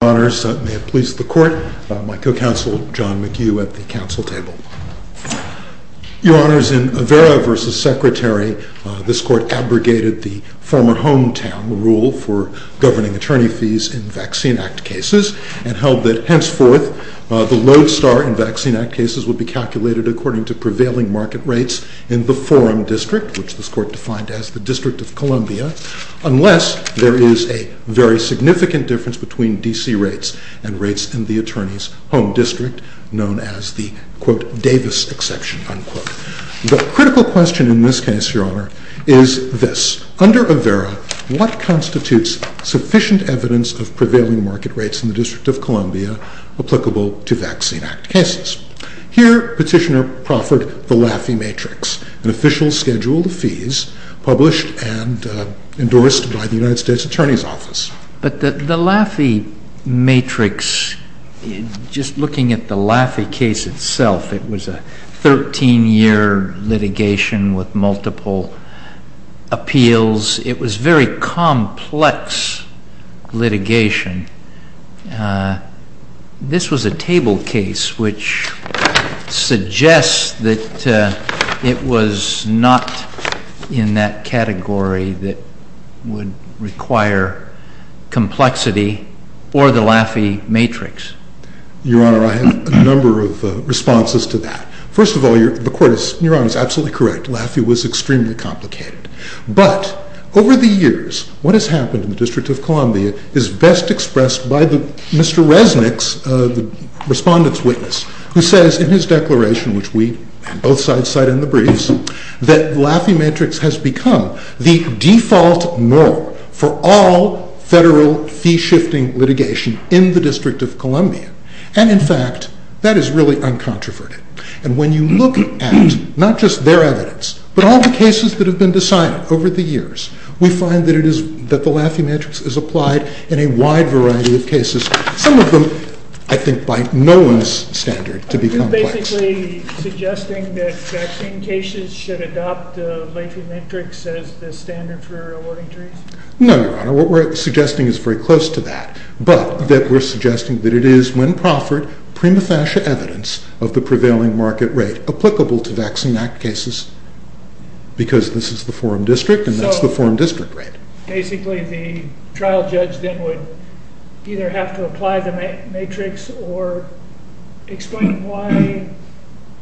Your Honors, may it please the Court, my co-counsel John McHugh at the council table. Your Honors, in Avera v. Secretary, this Court abrogated the former hometown rule for governing attorney fees in Vaccine Act cases and held that henceforth the load star in Vaccine Act cases would be calculated according to prevailing market rates in the Forum District, which this Court defined as the District of Columbia, unless there is a very significant difference between D.C. rates and rates in the Attorney's Home District, known as the, quote, Davis exception, unquote. The critical question in this case, Your Honor, is this. Under Avera, what constitutes sufficient evidence of prevailing market rates in the District of Columbia applicable to Vaccine Act cases? Here Petitioner proffered the Laffey Matrix, an official schedule of fees published and endorsed by the United States Attorney's Office. But the Laffey Matrix, just looking at the Laffey case itself, it was a 13-year litigation with multiple appeals. It was very complex litigation. This was a table case which suggests that it was not in that category that would require complexity or the Laffey Matrix. Your Honor, I have a number of responses to that. First of all, Your Honor is absolutely correct. Laffey was extremely complicated, but over the years what has happened in the District of Columbia is best expressed by Mr. Resnick's, the respondent's witness, who says in his declaration, which we both sides cite in the briefs, that Laffey Matrix has become the default murder for all federal fee-shifting litigation in the District of Columbia. And in fact, that is really uncontroverted. And when you look at not just their evidence, but all the cases that have been decided over the years, we find that the Laffey Matrix is applied in a wide variety of cases, some of them, I think, by no one's standard to be complex. Are you basically suggesting that vaccine cases should adopt Laffey Matrix as the standard for awarding treats? No, Your Honor. What we're suggesting is very close to that, but that we're suggesting that it is when proffered prima facie evidence of the prevailing market rate applicable to Vaccine Act cases, because this is the Forum District, and that's the Forum District rate. So, basically, the trial judge then would either have to apply the Matrix or explain why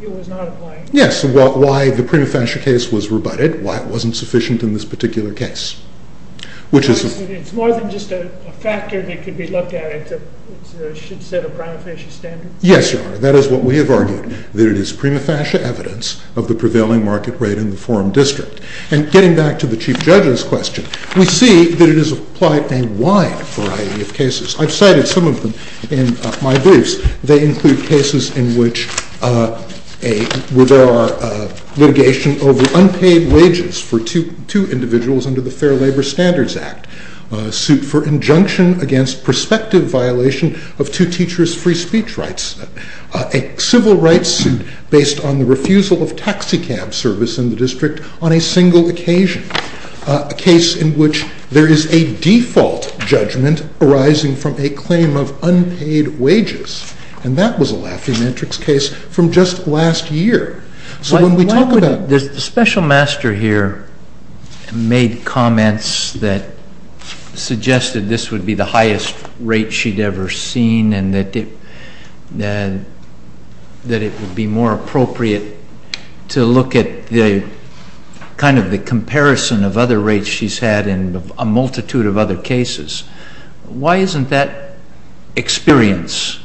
it was not applied? Yes, why the prima facie case was rebutted, why it wasn't sufficient in this particular case. It's more than just a factor that could be looked at. It's a shit set of prima facie standards? Yes, Your Honor. That is what we have argued, that it is prima facie evidence of the prevailing market rate in the Forum District. And getting back to the Chief Judge's question, we see that it is applied in a wide variety of cases. I've cited some of them in my briefs. They include cases in which there are litigation over unpaid wages for two individuals under the Fair Labor Standards Act, suit for injunction against prospective violation of two teachers' free speech rights, a civil rights suit based on the refusal of taxi cab service in the District on a single occasion, a case in which there is a default judgment arising from a claim of unpaid wages. And that was a Lafayette Matrix case from just last year. So when we talk about... Why would... The Special Master here made comments that suggested this would be the highest rate she'd ever seen and that it would be more appropriate to look at the comparison of other rates she's had in a multitude of other cases. Why isn't that experience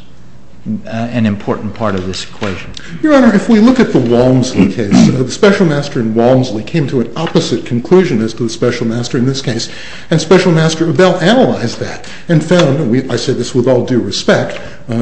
an important part of this equation? Your Honor, if we look at the Walmsley case, the Special Master in Walmsley came to an opposite conclusion as to the Special Master in this case. And Special Master Abell analyzed that and found, and I say this with all due respect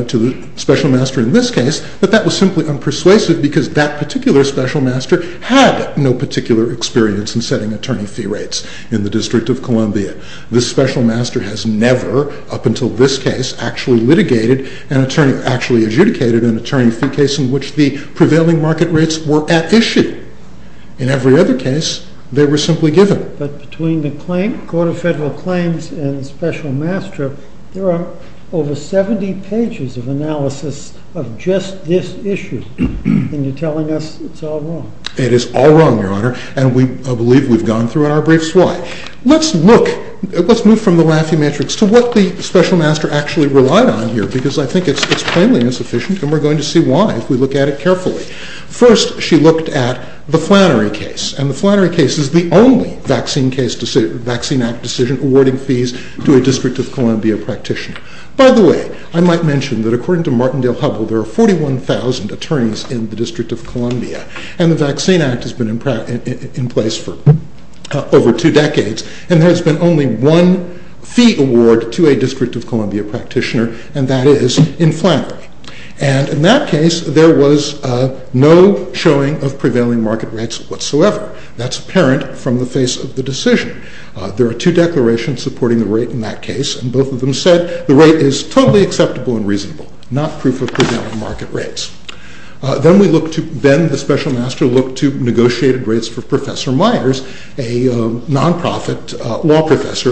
to the Special Master in this case, that that was simply unpersuasive because that particular Special Master had no particular experience in setting attorney fee rates in the District of Columbia. This Special Master has never, up until this case, actually litigated, actually adjudicated an attorney fee case in which the prevailing market rates were at issue. In every other case, they were simply given. But between the Court of Federal Claims and the Special Master, there are over 70 pages of analysis of just this issue. And you're telling us it's all wrong. It is all wrong, Your Honor, and I believe we've gone through it in our brief slide. Let's move from the Laffey Matrix to what the Special Master actually relied on here because I think it's plainly insufficient, and we're going to see why if we look at it carefully. First, she looked at the Flannery case, and the Flannery case is the only Vaccine Act decision awarding fees to a District of Columbia practitioner. By the way, I might mention that according to Martindale-Hubbell, there are 41,000 attorneys in the District of Columbia, and the Vaccine Act has been in place for over two decades, and there has been only one fee award to a District of Columbia practitioner, and that is in Flannery. And in that case, there was no showing of prevailing market rates whatsoever. That's apparent from the face of the decision. There are two declarations supporting the rate in that case, and both of them said the rate is totally acceptable and reasonable, not proof of prevailing market rates. Then the Special Master looked to negotiated rates for Professor Myers, a non-profit law That's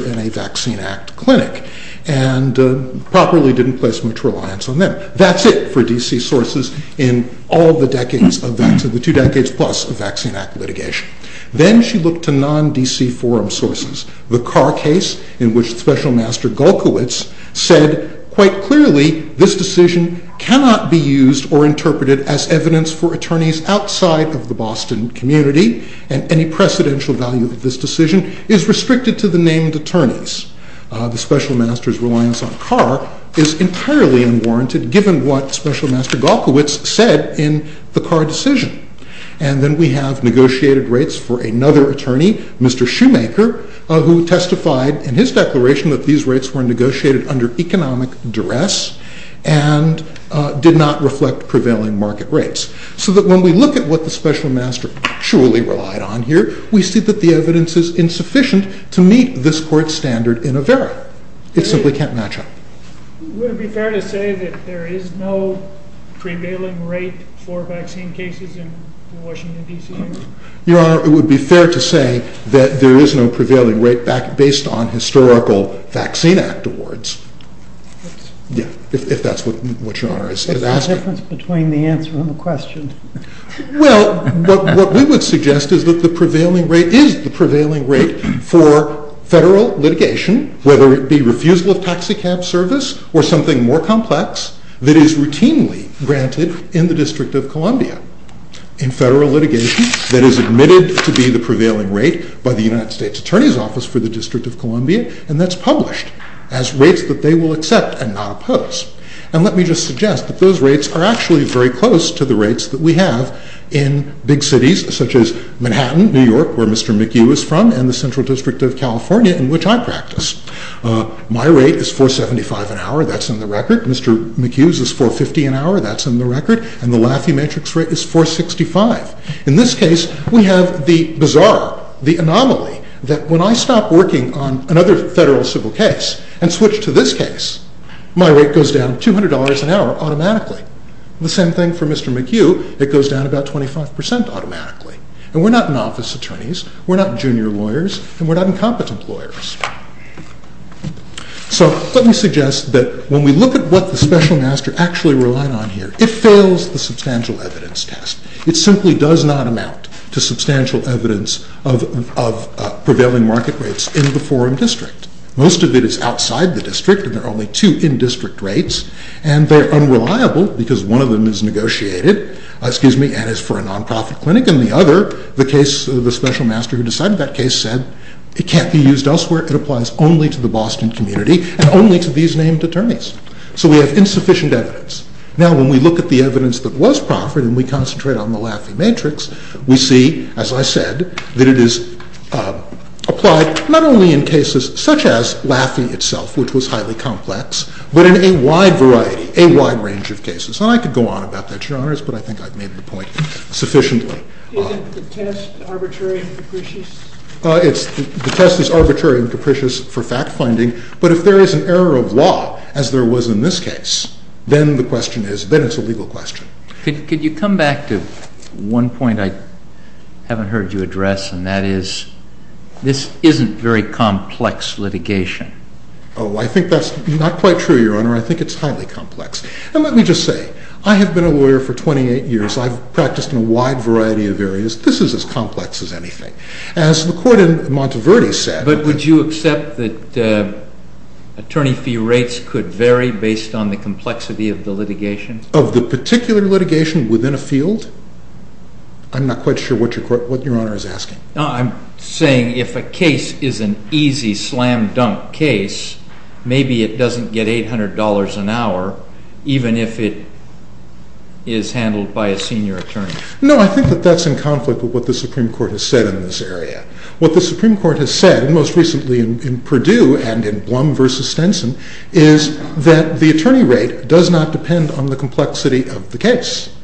it for D.C. sources in all the two decades plus of Vaccine Act litigation. Then she looked to non-D.C. forum sources. The Carr case, in which Special Master Golkowicz said quite clearly this decision cannot be used or interpreted as evidence for attorneys outside of the Boston community, and any precedential value of this decision is restricted to the named attorneys. The Special Master's reliance on Carr is entirely unwarranted given what Special Master Golkowicz said in the Carr decision. And then we have negotiated rates for another attorney, Mr. Shoemaker, who testified in his declaration that these rates were negotiated under economic duress and did not reflect prevailing market rates. So that when we look at what the Special Master actually relied on here, we see that the It simply can't match up. Would it be fair to say that there is no prevailing rate for vaccine cases in Washington, D.C.? Your Honor, it would be fair to say that there is no prevailing rate based on historical Vaccine Act awards, if that's what Your Honor is asking. What's the difference between the answer and the question? Well, what we would suggest is that the prevailing rate is the prevailing rate for federal litigation, whether it be refusal of taxicab service or something more complex that is routinely granted in the District of Columbia. In federal litigation, that is admitted to be the prevailing rate by the United States Attorney's Office for the District of Columbia, and that's published as rates that they will accept and not oppose. And let me just suggest that those rates are actually very close to the rates that we have in big cities such as Manhattan, New York, where Mr. McHugh is from, and the Central District of California in which I practice. My rate is $4.75 an hour. That's in the record. Mr. McHugh's is $4.50 an hour. That's in the record. And the Lafayette Matrix rate is $4.65. In this case, we have the bizarre, the anomaly that when I stop working on another federal civil case and switch to this case, my rate goes down $200 an hour automatically. The same thing for Mr. McHugh. It goes down about 25% automatically. And we're not in-office attorneys. We're not junior lawyers. And we're not incompetent lawyers. So let me suggest that when we look at what the special master actually relied on here, it fails the substantial evidence test. It simply does not amount to substantial evidence of prevailing market rates in the forum district. Most of it is outside the district, and there are only two in-district rates. And they're unreliable because one of them is negotiated and is for a nonprofit clinic, and the other, the case, the special master who decided that case said it can't be used elsewhere. It applies only to the Boston community and only to these named attorneys. So we have insufficient evidence. Now, when we look at the evidence that was proffered and we concentrate on the Lafayette Matrix, we see, as I said, that it is applied not only in cases such as Lafayette itself, which was highly complex, but in a wide variety, a wide range of cases. And I could go on about that, Your Honors, but I think I've made the point sufficiently. Is the test arbitrary and capricious? The test is arbitrary and capricious for fact-finding, but if there is an error of law, as there was in this case, then the question is, then it's a legal question. Could you come back to one point I haven't heard you address, and that is this isn't very complex litigation. Oh, I think that's not quite true, Your Honor. I think it's highly complex. And let me just say, I have been a lawyer for 28 years. I've practiced in a wide variety of areas. This is as complex as anything. As the court in Monteverde said— But would you accept that attorney fee rates could vary based on the complexity of the litigation? Of the particular litigation within a field? I'm not quite sure what Your Honor is asking. I'm saying if a case is an easy slam-dunk case, maybe it doesn't get $800 an hour, even if it is handled by a senior attorney. No, I think that that's in conflict with what the Supreme Court has said in this area. What the Supreme Court has said, most recently in Purdue and in Blum v. Stenson, is that the attorney rate does not depend on the complexity of the case,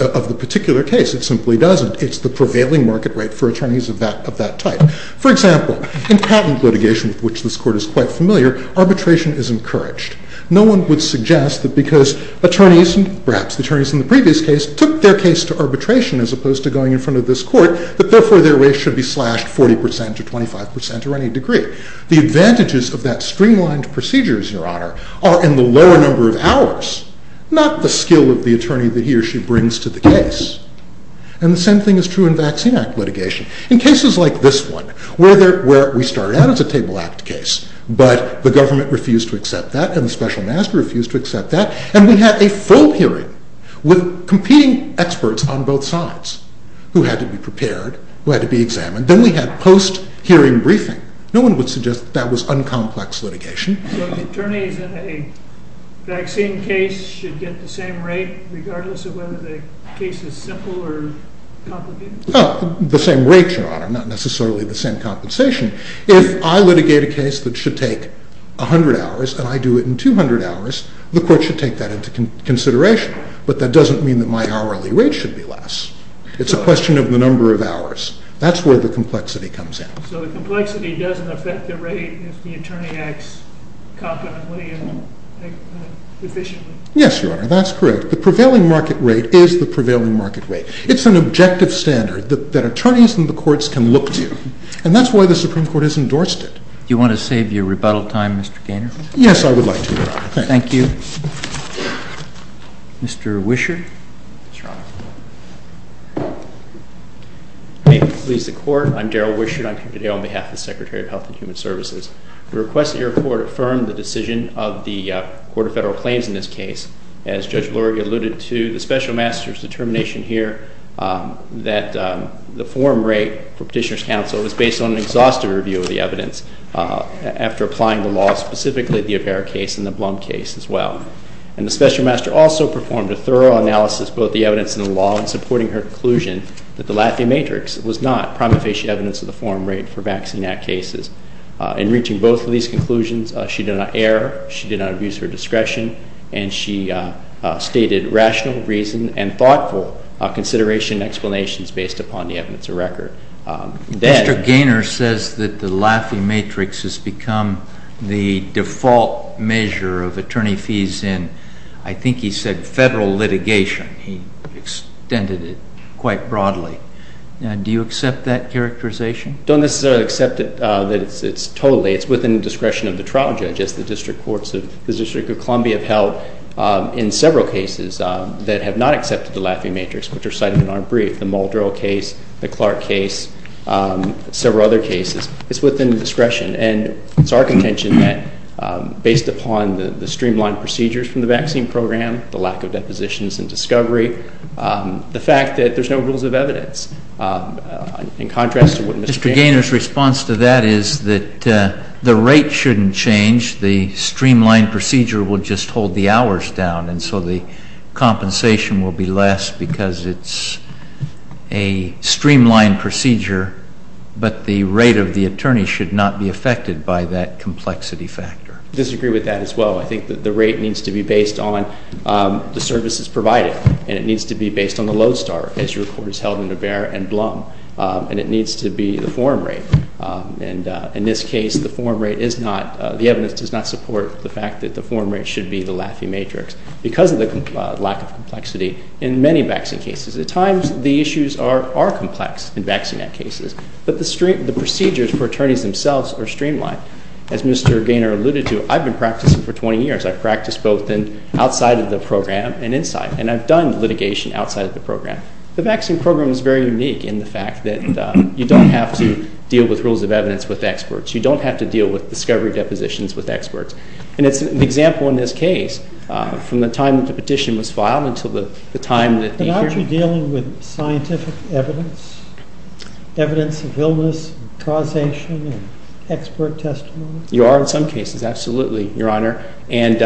of the particular case. It simply doesn't. It's the prevailing market rate for attorneys of that type. For example, in patent litigation, which this court is quite familiar, arbitration is encouraged. No one would suggest that because attorneys, perhaps the attorneys in the previous case, took their case to arbitration as opposed to going in front of this court, that therefore their rate should be slashed 40% to 25% or any degree. The advantages of that streamlined procedure, Your Honor, are in the lower number of hours, not the skill of the attorney that he or she brings to the case. And the same thing is true in Vaccine Act litigation. In cases like this one, where we started out as a Table Act case, but the government refused to accept that, and the special master refused to accept that, and we had a full hearing with competing experts on both sides, who had to be prepared, who had to be examined. Then we had post-hearing briefing. No one would suggest that that was uncomplex litigation. So attorneys in a vaccine case should get the same rate, regardless of whether the case is simple or complicated? The same rate, Your Honor, not necessarily the same compensation. If I litigate a case that should take 100 hours, and I do it in 200 hours, the court should take that into consideration. But that doesn't mean that my hourly rate should be less. It's a question of the number of hours. That's where the complexity comes in. So the complexity doesn't affect the rate if the attorney acts competently and efficiently? Yes, Your Honor, that's correct. The prevailing market rate is the prevailing market rate. It's an objective standard that attorneys in the courts can look to, and that's why the Supreme Court has endorsed it. Do you want to save your rebuttal time, Mr. Gaynor? Thank you. Mr. Wisher. May it please the Court. I'm Darrell Wisher, and I'm here today on behalf of the Secretary of Health and Human Services. We request that your Court affirm the decision of the Court of Federal Claims in this case. As Judge Bloerig alluded to, the Special Master's determination here that the forum rate for Petitioner's Counsel was based on an exhaustive review of the evidence after applying the law, specifically the Apera case and the Blum case as well. And the Special Master also performed a thorough analysis of both the evidence and the law in supporting her conclusion that the Laffey matrix was not prima facie evidence of the forum rate for vaccine act cases. In reaching both of these conclusions, she did not err, she did not abuse her discretion, and she stated rational reason and thoughtful consideration and explanations based upon the evidence of record. Mr. Gaynor says that the Laffey matrix has become the default measure of attorney fees in, I think he said, federal litigation. He extended it quite broadly. Do you accept that characterization? Don't necessarily accept it totally. It's within the discretion of the trial judges. The District of Columbia have held in several cases that have not accepted the Laffey matrix, which are cited in our brief, the Muldrow case, the Clark case, several other cases. It's within the discretion. And it's our contention that based upon the streamlined procedures from the vaccine program, the lack of depositions and discovery, the fact that there's no rules of evidence. In contrast to what Mr. Gaynor's response to that is that the rate shouldn't change, the streamlined procedure would just hold the hours down, and so the compensation will be less because it's a streamlined procedure, but the rate of the attorney should not be affected by that complexity factor. I disagree with that as well. I think that the rate needs to be based on the services provided, and it needs to be based on the Lodestar, as your Court has held in Avere and Blum, and it needs to be the form rate. And in this case, the form rate is not, the evidence does not support the fact that the form rate should be the Laffey matrix because of the lack of complexity in many vaccine cases. At times, the issues are complex in vaccine cases, but the procedures for attorneys themselves are streamlined. As Mr. Gaynor alluded to, I've been practicing for 20 years. I've practiced both outside of the program and inside, and I've done litigation outside of the program. The vaccine program is very unique in the fact that you don't have to deal with rules of evidence with experts. You don't have to deal with discovery depositions with experts, and it's an example in this case. From the time that the petition was filed until the time that the hearing… But aren't you dealing with scientific evidence, evidence of illness, causation, and expert testimony? You are in some cases, absolutely, Your Honor, and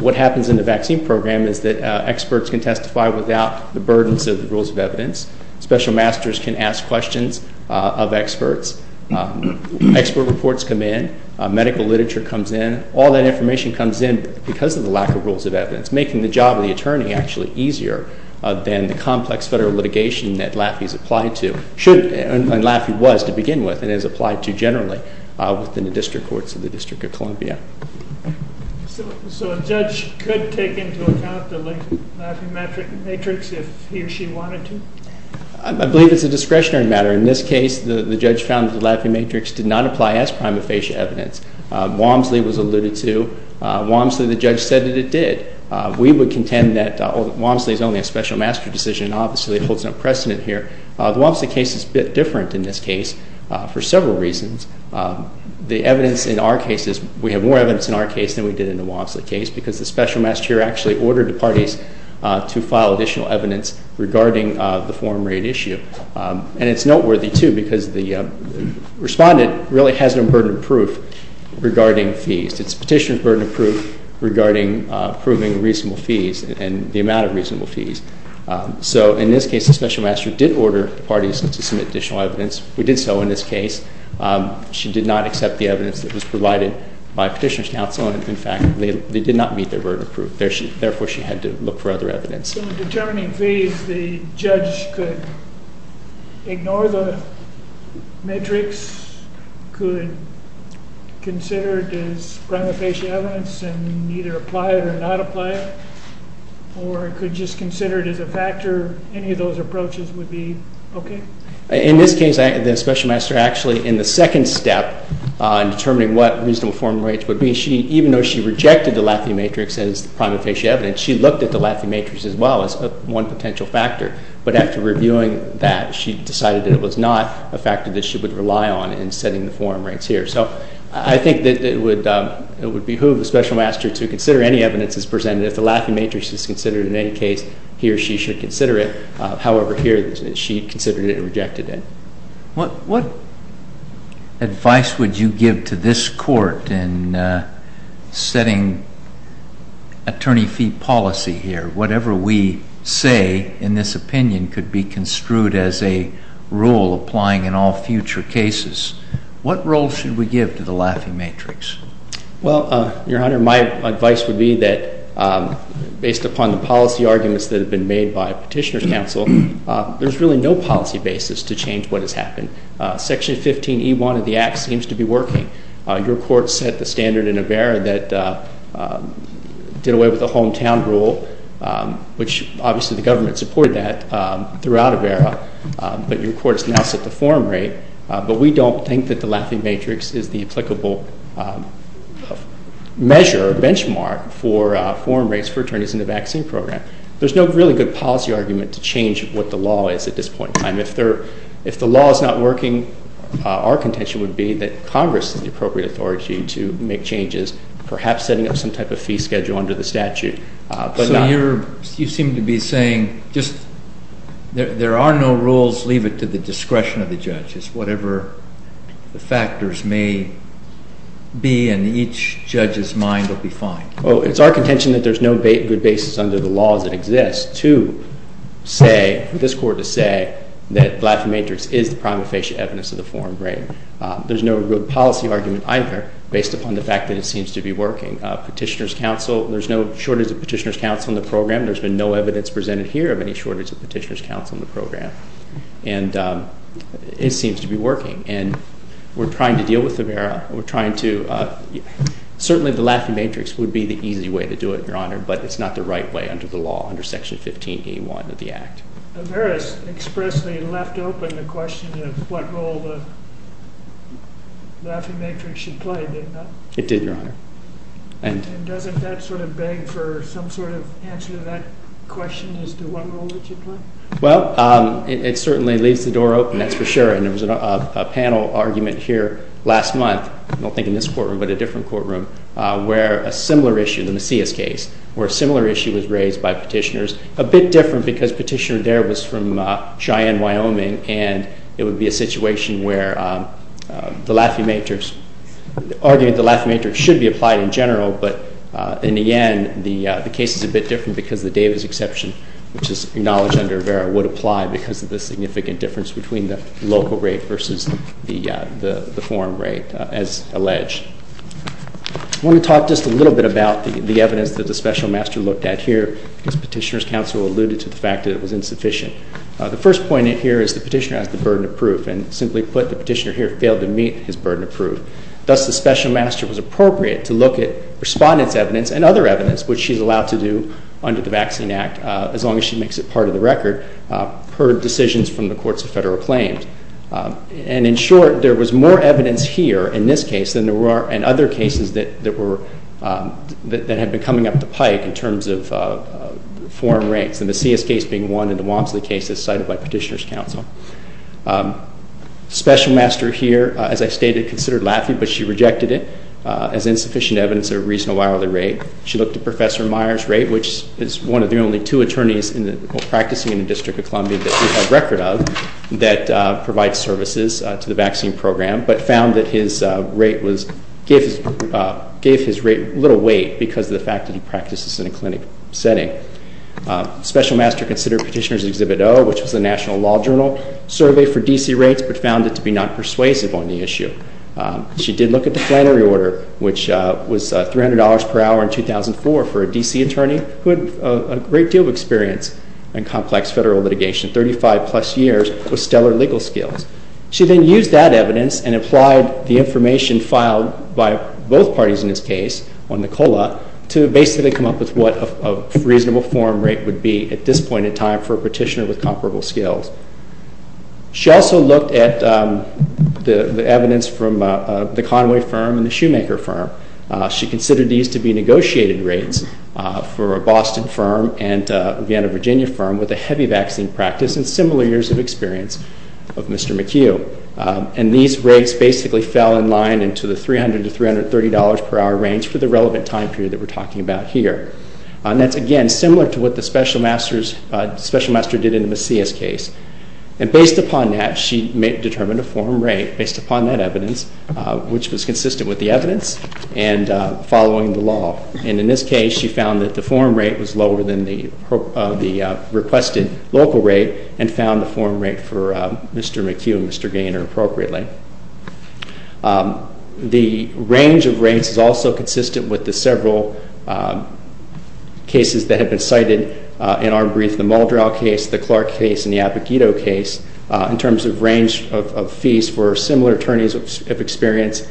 what happens in the vaccine program is that there are burdens of the rules of evidence. Special masters can ask questions of experts. Expert reports come in. Medical literature comes in. All that information comes in because of the lack of rules of evidence, making the job of the attorney actually easier than the complex federal litigation that Laffey is applied to, and Laffey was to begin with, and is applied to generally within the district courts of the District of Columbia. So a judge could take into account the Laffey matrix if he or she wanted to? I believe it's a discretionary matter. In this case, the judge found that the Laffey matrix did not apply as prima facie evidence. Walmsley was alluded to. Walmsley, the judge, said that it did. We would contend that Walmsley is only a special master decision. Obviously, it holds no precedent here. The Walmsley case is a bit different in this case for several reasons. The evidence in our case is we have more evidence in our case than we did in the Walmsley case because the special master here actually ordered the parties to file additional evidence regarding the foreign rate issue. And it's noteworthy, too, because the respondent really has no burden of proof regarding fees. Its petitioner's burden of proof regarding proving reasonable fees and the amount of reasonable fees. So in this case, the special master did order the parties to submit additional evidence. We did so in this case. She did not accept the evidence that was provided by petitioner's counsel, and, in fact, they did not meet their burden of proof. Therefore, she had to look for other evidence. So in determining fees, the judge could ignore the matrix, could consider it as prima facie evidence and either apply it or not apply it, or could just consider it as a factor. Any of those approaches would be okay? In this case, the special master actually, in the second step, in determining what reasonable foreign rates would be, even though she rejected the Lathy matrix as the prima facie evidence, she looked at the Lathy matrix as well as one potential factor. But after reviewing that, she decided that it was not a factor that she would rely on in setting the foreign rates here. So I think it would behoove the special master to consider any evidence that's presented. If the Lathy matrix is considered in any case, he or she should consider it. However, here, she considered it and rejected it. What advice would you give to this court in setting attorney fee policy here? Whatever we say in this opinion could be construed as a rule applying in all future cases. What role should we give to the Lathy matrix? Well, Your Honor, my advice would be that, based upon the policy arguments that have been made by Petitioner's Counsel, there's really no policy basis to change what has happened. Section 15E1 of the Act seems to be working. Your court set the standard in AVERA that did away with the hometown rule, which obviously the government supported that throughout AVERA. But your court has now set the foreign rate. But we don't think that the Lathy matrix is the applicable measure or benchmark for foreign rates for attorneys in the vaccine program. There's no really good policy argument to change what the law is at this point in time. If the law is not working, our contention would be that Congress is the appropriate authority to make changes, perhaps setting up some type of fee schedule under the statute. So you seem to be saying just there are no rules, leave it to the discretion of the judges, whatever the factors may be, and each judge's mind will be fine. Well, it's our contention that there's no good basis under the laws that exist to say, for this court to say, that Lathy matrix is the prima facie evidence of the foreign rate. There's no good policy argument either, based upon the fact that it seems to be working. Petitioner's Counsel, there's no shortage of Petitioner's Counsel in the There's been no evidence presented here of any shortage of Petitioner's Counsel in the program. And it seems to be working. And we're trying to deal with Avera. We're trying to, certainly the Lathy matrix would be the easy way to do it, Your Honor, but it's not the right way under the law, under Section 15A1 of the Act. Avera's expressly left open the question of what role the Lathy matrix should play, didn't it? It did, Your Honor. And doesn't that sort of beg for some sort of answer to that question as to what role it should play? Well, it certainly leaves the door open, that's for sure. And there was a panel argument here last month, I don't think in this courtroom, but a different courtroom, where a similar issue, the Macias case, where a similar issue was raised by Petitioner's, a bit different because Petitioner there was from Cheyenne, Wyoming, and it would be a situation where the Lathy matrix, arguing the Lathy matrix should be applied in general, but in the end, the case is a bit different because of the Davis exception, which is acknowledged under Avera, would apply because of the significant difference between the local rate versus the foreign rate as alleged. I want to talk just a little bit about the evidence that the Special Master looked at here, because Petitioner's counsel alluded to the fact that it was insufficient. The first point here is the Petitioner has the burden of proof, and simply put, the Petitioner here failed to meet his burden of proof. Thus, the Special Master was appropriate to look at respondent's evidence and other evidence, which she's allowed to do under the Vaccine Act, as long as she makes it part of the record, per decisions from the Courts of Federal Claims. In short, there was more evidence here in this case than there were in other cases that had been coming up the pike in terms of foreign rates, the Macias case being one, and the Wamsley case as cited by Petitioner's counsel. Special Master here, as I stated, considered Lathy, but she rejected it as insufficient evidence at a reasonable hourly rate. She looked at Professor Meyer's rate, which is one of the only two attorneys practicing in the District of Columbia that we have record of that provides services to the vaccine program, but found that his rate was, gave his rate little weight because of the fact that he practices in a clinic setting. Special Master considered Petitioner's Exhibit O, which was a National Law Journal survey for D.C. rates, but found it to be not persuasive on the issue. She did look at the Flannery order, which was $300 per hour in 2004 for a D.C. attorney who had a great deal of experience in complex federal litigation, 35-plus years with stellar legal skills. She then used that evidence and applied the information filed by both parties in this case on the COLA to basically come up with what a reasonable foreign rate would be at this point in time for a petitioner with comparable skills. She also looked at the evidence from the Conway firm and the Shoemaker firm. She considered these to be negotiated rates for a Boston firm and a Vienna, Virginia firm with a heavy vaccine practice and similar years of experience of Mr. McHugh. And these rates basically fell in line into the $300 to $330 per hour range for the relevant time period that we're talking about here. And that's, again, similar to what the special master did in the Macias case. And based upon that, she determined a foreign rate based upon that evidence, which was consistent with the evidence and following the law. And in this case, she found that the foreign rate was lower than the requested local rate and found the foreign rate for Mr. McHugh and Mr. Gaynor appropriately. The range of rates is also consistent with the several cases that have been cited in our brief, the Muldrell case, the Clark case, and the Avogadro case, in terms of range of fees for similar attorneys of experience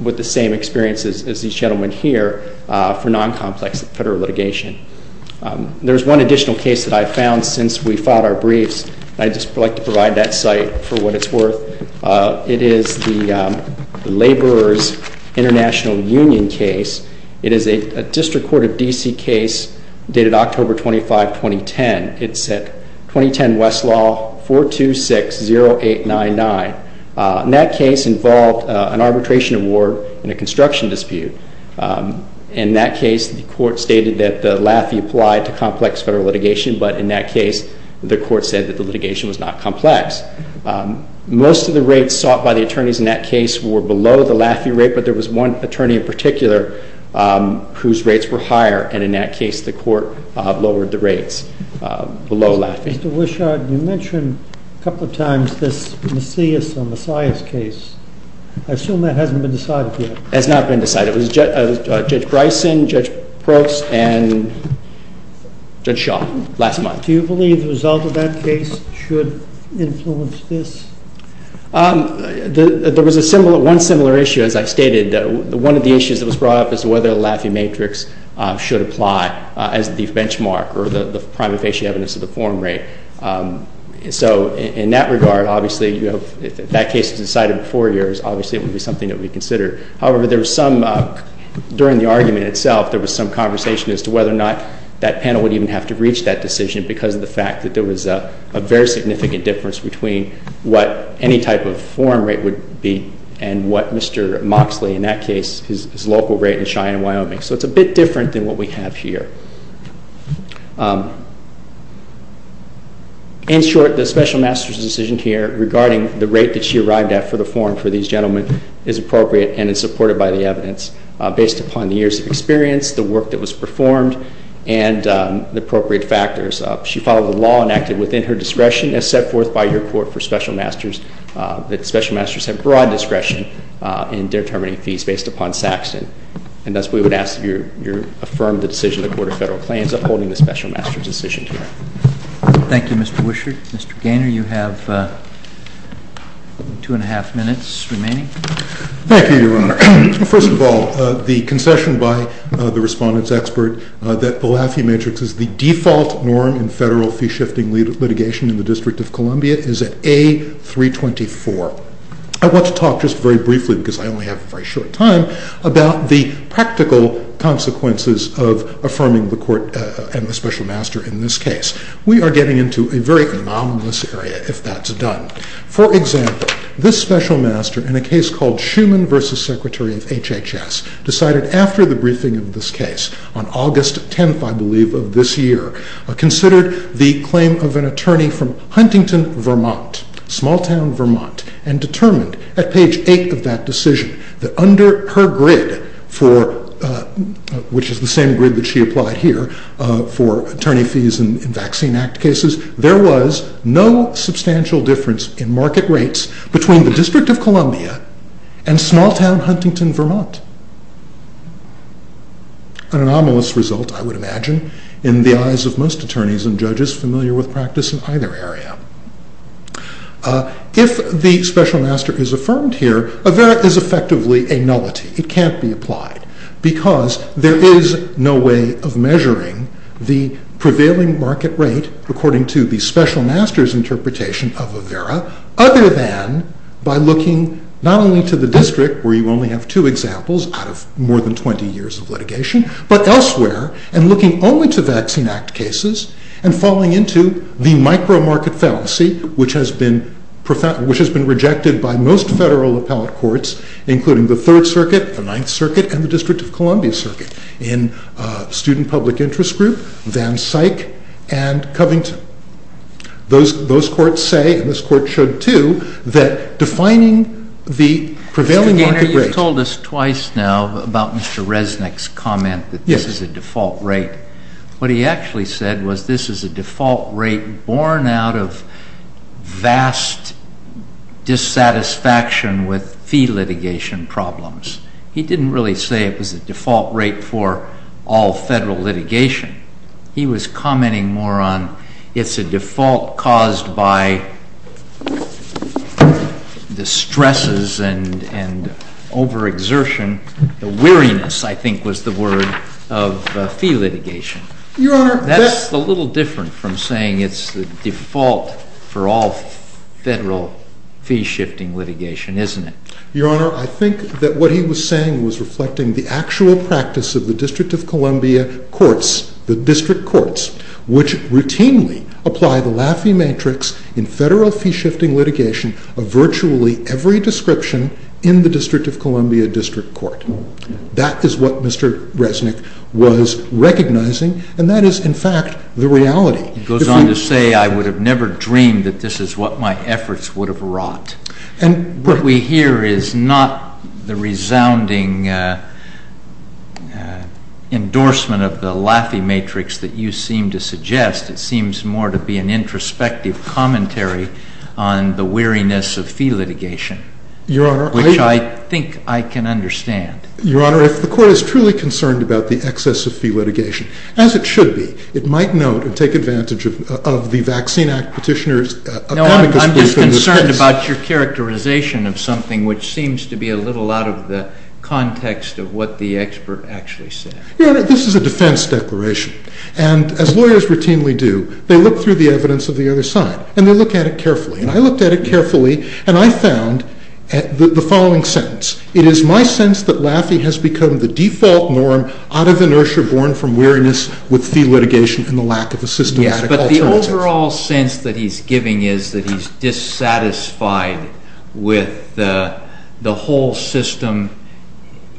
with the same experiences as these gentlemen here for non-complex federal litigation. There's one additional case that I found since we filed our briefs. I'd just like to provide that site for what it's worth. It is the Laborer's International Union case. It is a District Court of D.C. case dated October 25, 2010. It's at 2010 Westlaw 426-0899. And that case involved an arbitration award and a construction dispute. In that case, the court stated that the LAFI applied to complex federal litigation, but in that case, the court said that the litigation was not complex. Most of the rates sought by the attorneys in that case were below the LAFI rate, but there was one attorney in particular whose rates were higher, and in that case, the court lowered the rates below LAFI. Mr. Wishart, you mentioned a couple of times this Macias or Macias case. I assume that hasn't been decided yet. It has not been decided. It was Judge Bryson, Judge Probst, and Judge Shaw last month. Do you believe the result of that case should influence this? There was one similar issue, as I stated. One of the issues that was brought up is whether the LAFI matrix should apply as the benchmark or the primary facial evidence of the form rate. So in that regard, obviously, if that case was decided before yours, obviously it would be something that we'd consider. However, during the argument itself, there was some conversation as to whether or not that panel would even have to reach that decision because of the fact that there was a very significant difference between what any type of form rate would be and what Mr. Moxley, in that case, his local rate in Cheyenne, Wyoming. So it's a bit different than what we have here. In short, the special master's decision here regarding the rate that she arrived at for the form for these gentlemen is appropriate and is supported by the evidence based upon the years of experience, the work that was performed, and the appropriate factors. She followed the law and acted within her discretion as set forth by your court for special masters that special masters have broad discretion in determining fees based upon Saxton. And thus, we would ask that you affirm the decision of the Court of Federal Claims upholding the special master's decision here. Thank you, Mr. Wisher. Mr. Gaynor, you have two and a half minutes remaining. Thank you, Your Honor. First of all, the concession by the respondent's expert that the Lafey Matrix is the default norm in federal fee-shifting litigation in the District of Columbia is at A. 324. I want to talk just very briefly, because I only have a very short time, about the practical consequences of affirming the Court and the special master in this case. We are getting into a very anomalous area if that's done. For example, this special master in a case called Schuman v. Secretary of HHS decided after the briefing of this case, on August 10th, I believe, of this year, considered the claim of an attorney from Huntington, Vermont, small-town Vermont, and determined at page 8 of that decision that under her grid, which is the same grid that she applied here for attorney fees in Vaccine Act cases, there was no substantial difference in market rates between the District of Columbia and small-town Huntington, Vermont. An anomalous result, I would imagine, in the eyes of most attorneys and judges familiar with practice in either area. If the special master is affirmed here, there is effectively a nullity. It can't be applied, because there is no way of measuring the prevailing market rate, according to the special master's interpretation of Avera, other than by looking not only to the District, where you only have two examples out of more than 20 years of litigation, but elsewhere, and looking only to Vaccine Act cases, and falling into the micro-market fallacy, which has been rejected by most federal appellate courts, including the Third Circuit, the Ninth Circuit, and the District of Columbia Circuit, in Student Public Interest Group, Van Syk, and Covington. Those courts say, and this court should too, that defining the prevailing market rate- Mr. Gaynor, you've told us twice now about Mr. Resnick's comment that this is a default rate. What he actually said was this is a default rate born out of vast dissatisfaction with fee litigation problems. He didn't really say it was a default rate for all federal litigation. He was commenting more on it's a default caused by distresses and overexertion. The weariness, I think, was the word of fee litigation. That's a little different from saying it's the default for all federal fee-shifting litigation. Your Honor, I think that what he was saying was reflecting the actual practice of the District of Columbia Courts, the District Courts, which routinely apply the Laffey Matrix in federal fee-shifting litigation of virtually every description in the District of Columbia District Court. That is what Mr. Resnick was recognizing, and that is, in fact, the reality. He goes on to say, I would have never dreamed that this is what my efforts would have wrought. What we hear is not the resounding endorsement of the Laffey Matrix that you seem to suggest. It seems more to be an introspective commentary on the weariness of fee litigation, which I think I can understand. Your Honor, if the Court is truly concerned about the excess of fee litigation, as it should be, it might note and take advantage of the Vaccine Act petitioner's I'm just concerned about your characterization of something, which seems to be a little out of the context of what the expert actually said. Your Honor, this is a defense declaration. And as lawyers routinely do, they look through the evidence of the other side, and they look at it carefully. And I looked at it carefully, and I found the following sentence. It is my sense that Laffey has become the default norm out of inertia, born from weariness with fee litigation and the lack of assistance. But the overall sense that he's giving is that he's dissatisfied with the whole system,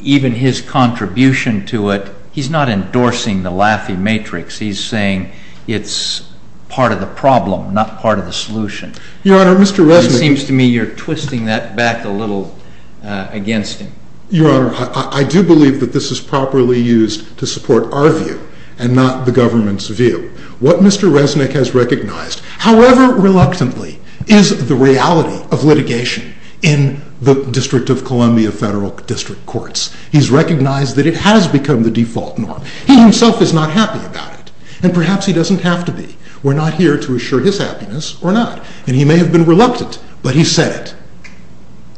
even his contribution to it. He's not endorsing the Laffey Matrix. He's saying it's part of the problem, not part of the solution. Your Honor, Mr. Resnick. It seems to me you're twisting that back a little against him. Your Honor, I do believe that this is properly used to support our view and not the government's view. What Mr. Resnick has recognized, however reluctantly, is the reality of litigation in the District of Columbia Federal District Courts. He's recognized that it has become the default norm. He himself is not happy about it. And perhaps he doesn't have to be. We're not here to assure his happiness or not. And he may have been reluctant, but he said it.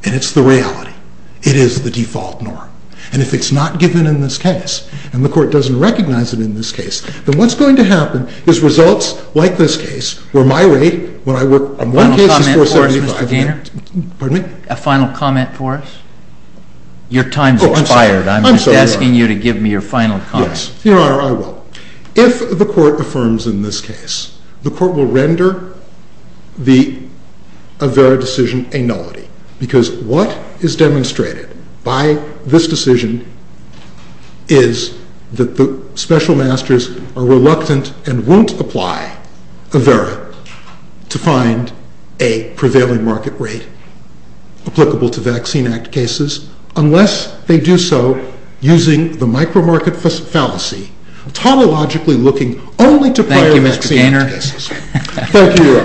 And it's the reality. It is the default norm. And if it's not given in this case, and the court doesn't recognize it in this case, then what's going to happen is results like this case where my rate when I work on one case is 475. A final comment for us, Mr. Gaynor? Pardon me? A final comment for us? Your time has expired. I'm sorry, Your Honor. I'm just asking you to give me your final comment. Yes. Your Honor, I will. If the court affirms in this case, the court will render the Avera decision a nullity. Because what is demonstrated by this decision is that the special masters are reluctant and won't apply Avera to find a prevailing market rate applicable to Vaccine Act cases unless they do so using the micromarket fallacy, tautologically looking only to prior vaccine cases.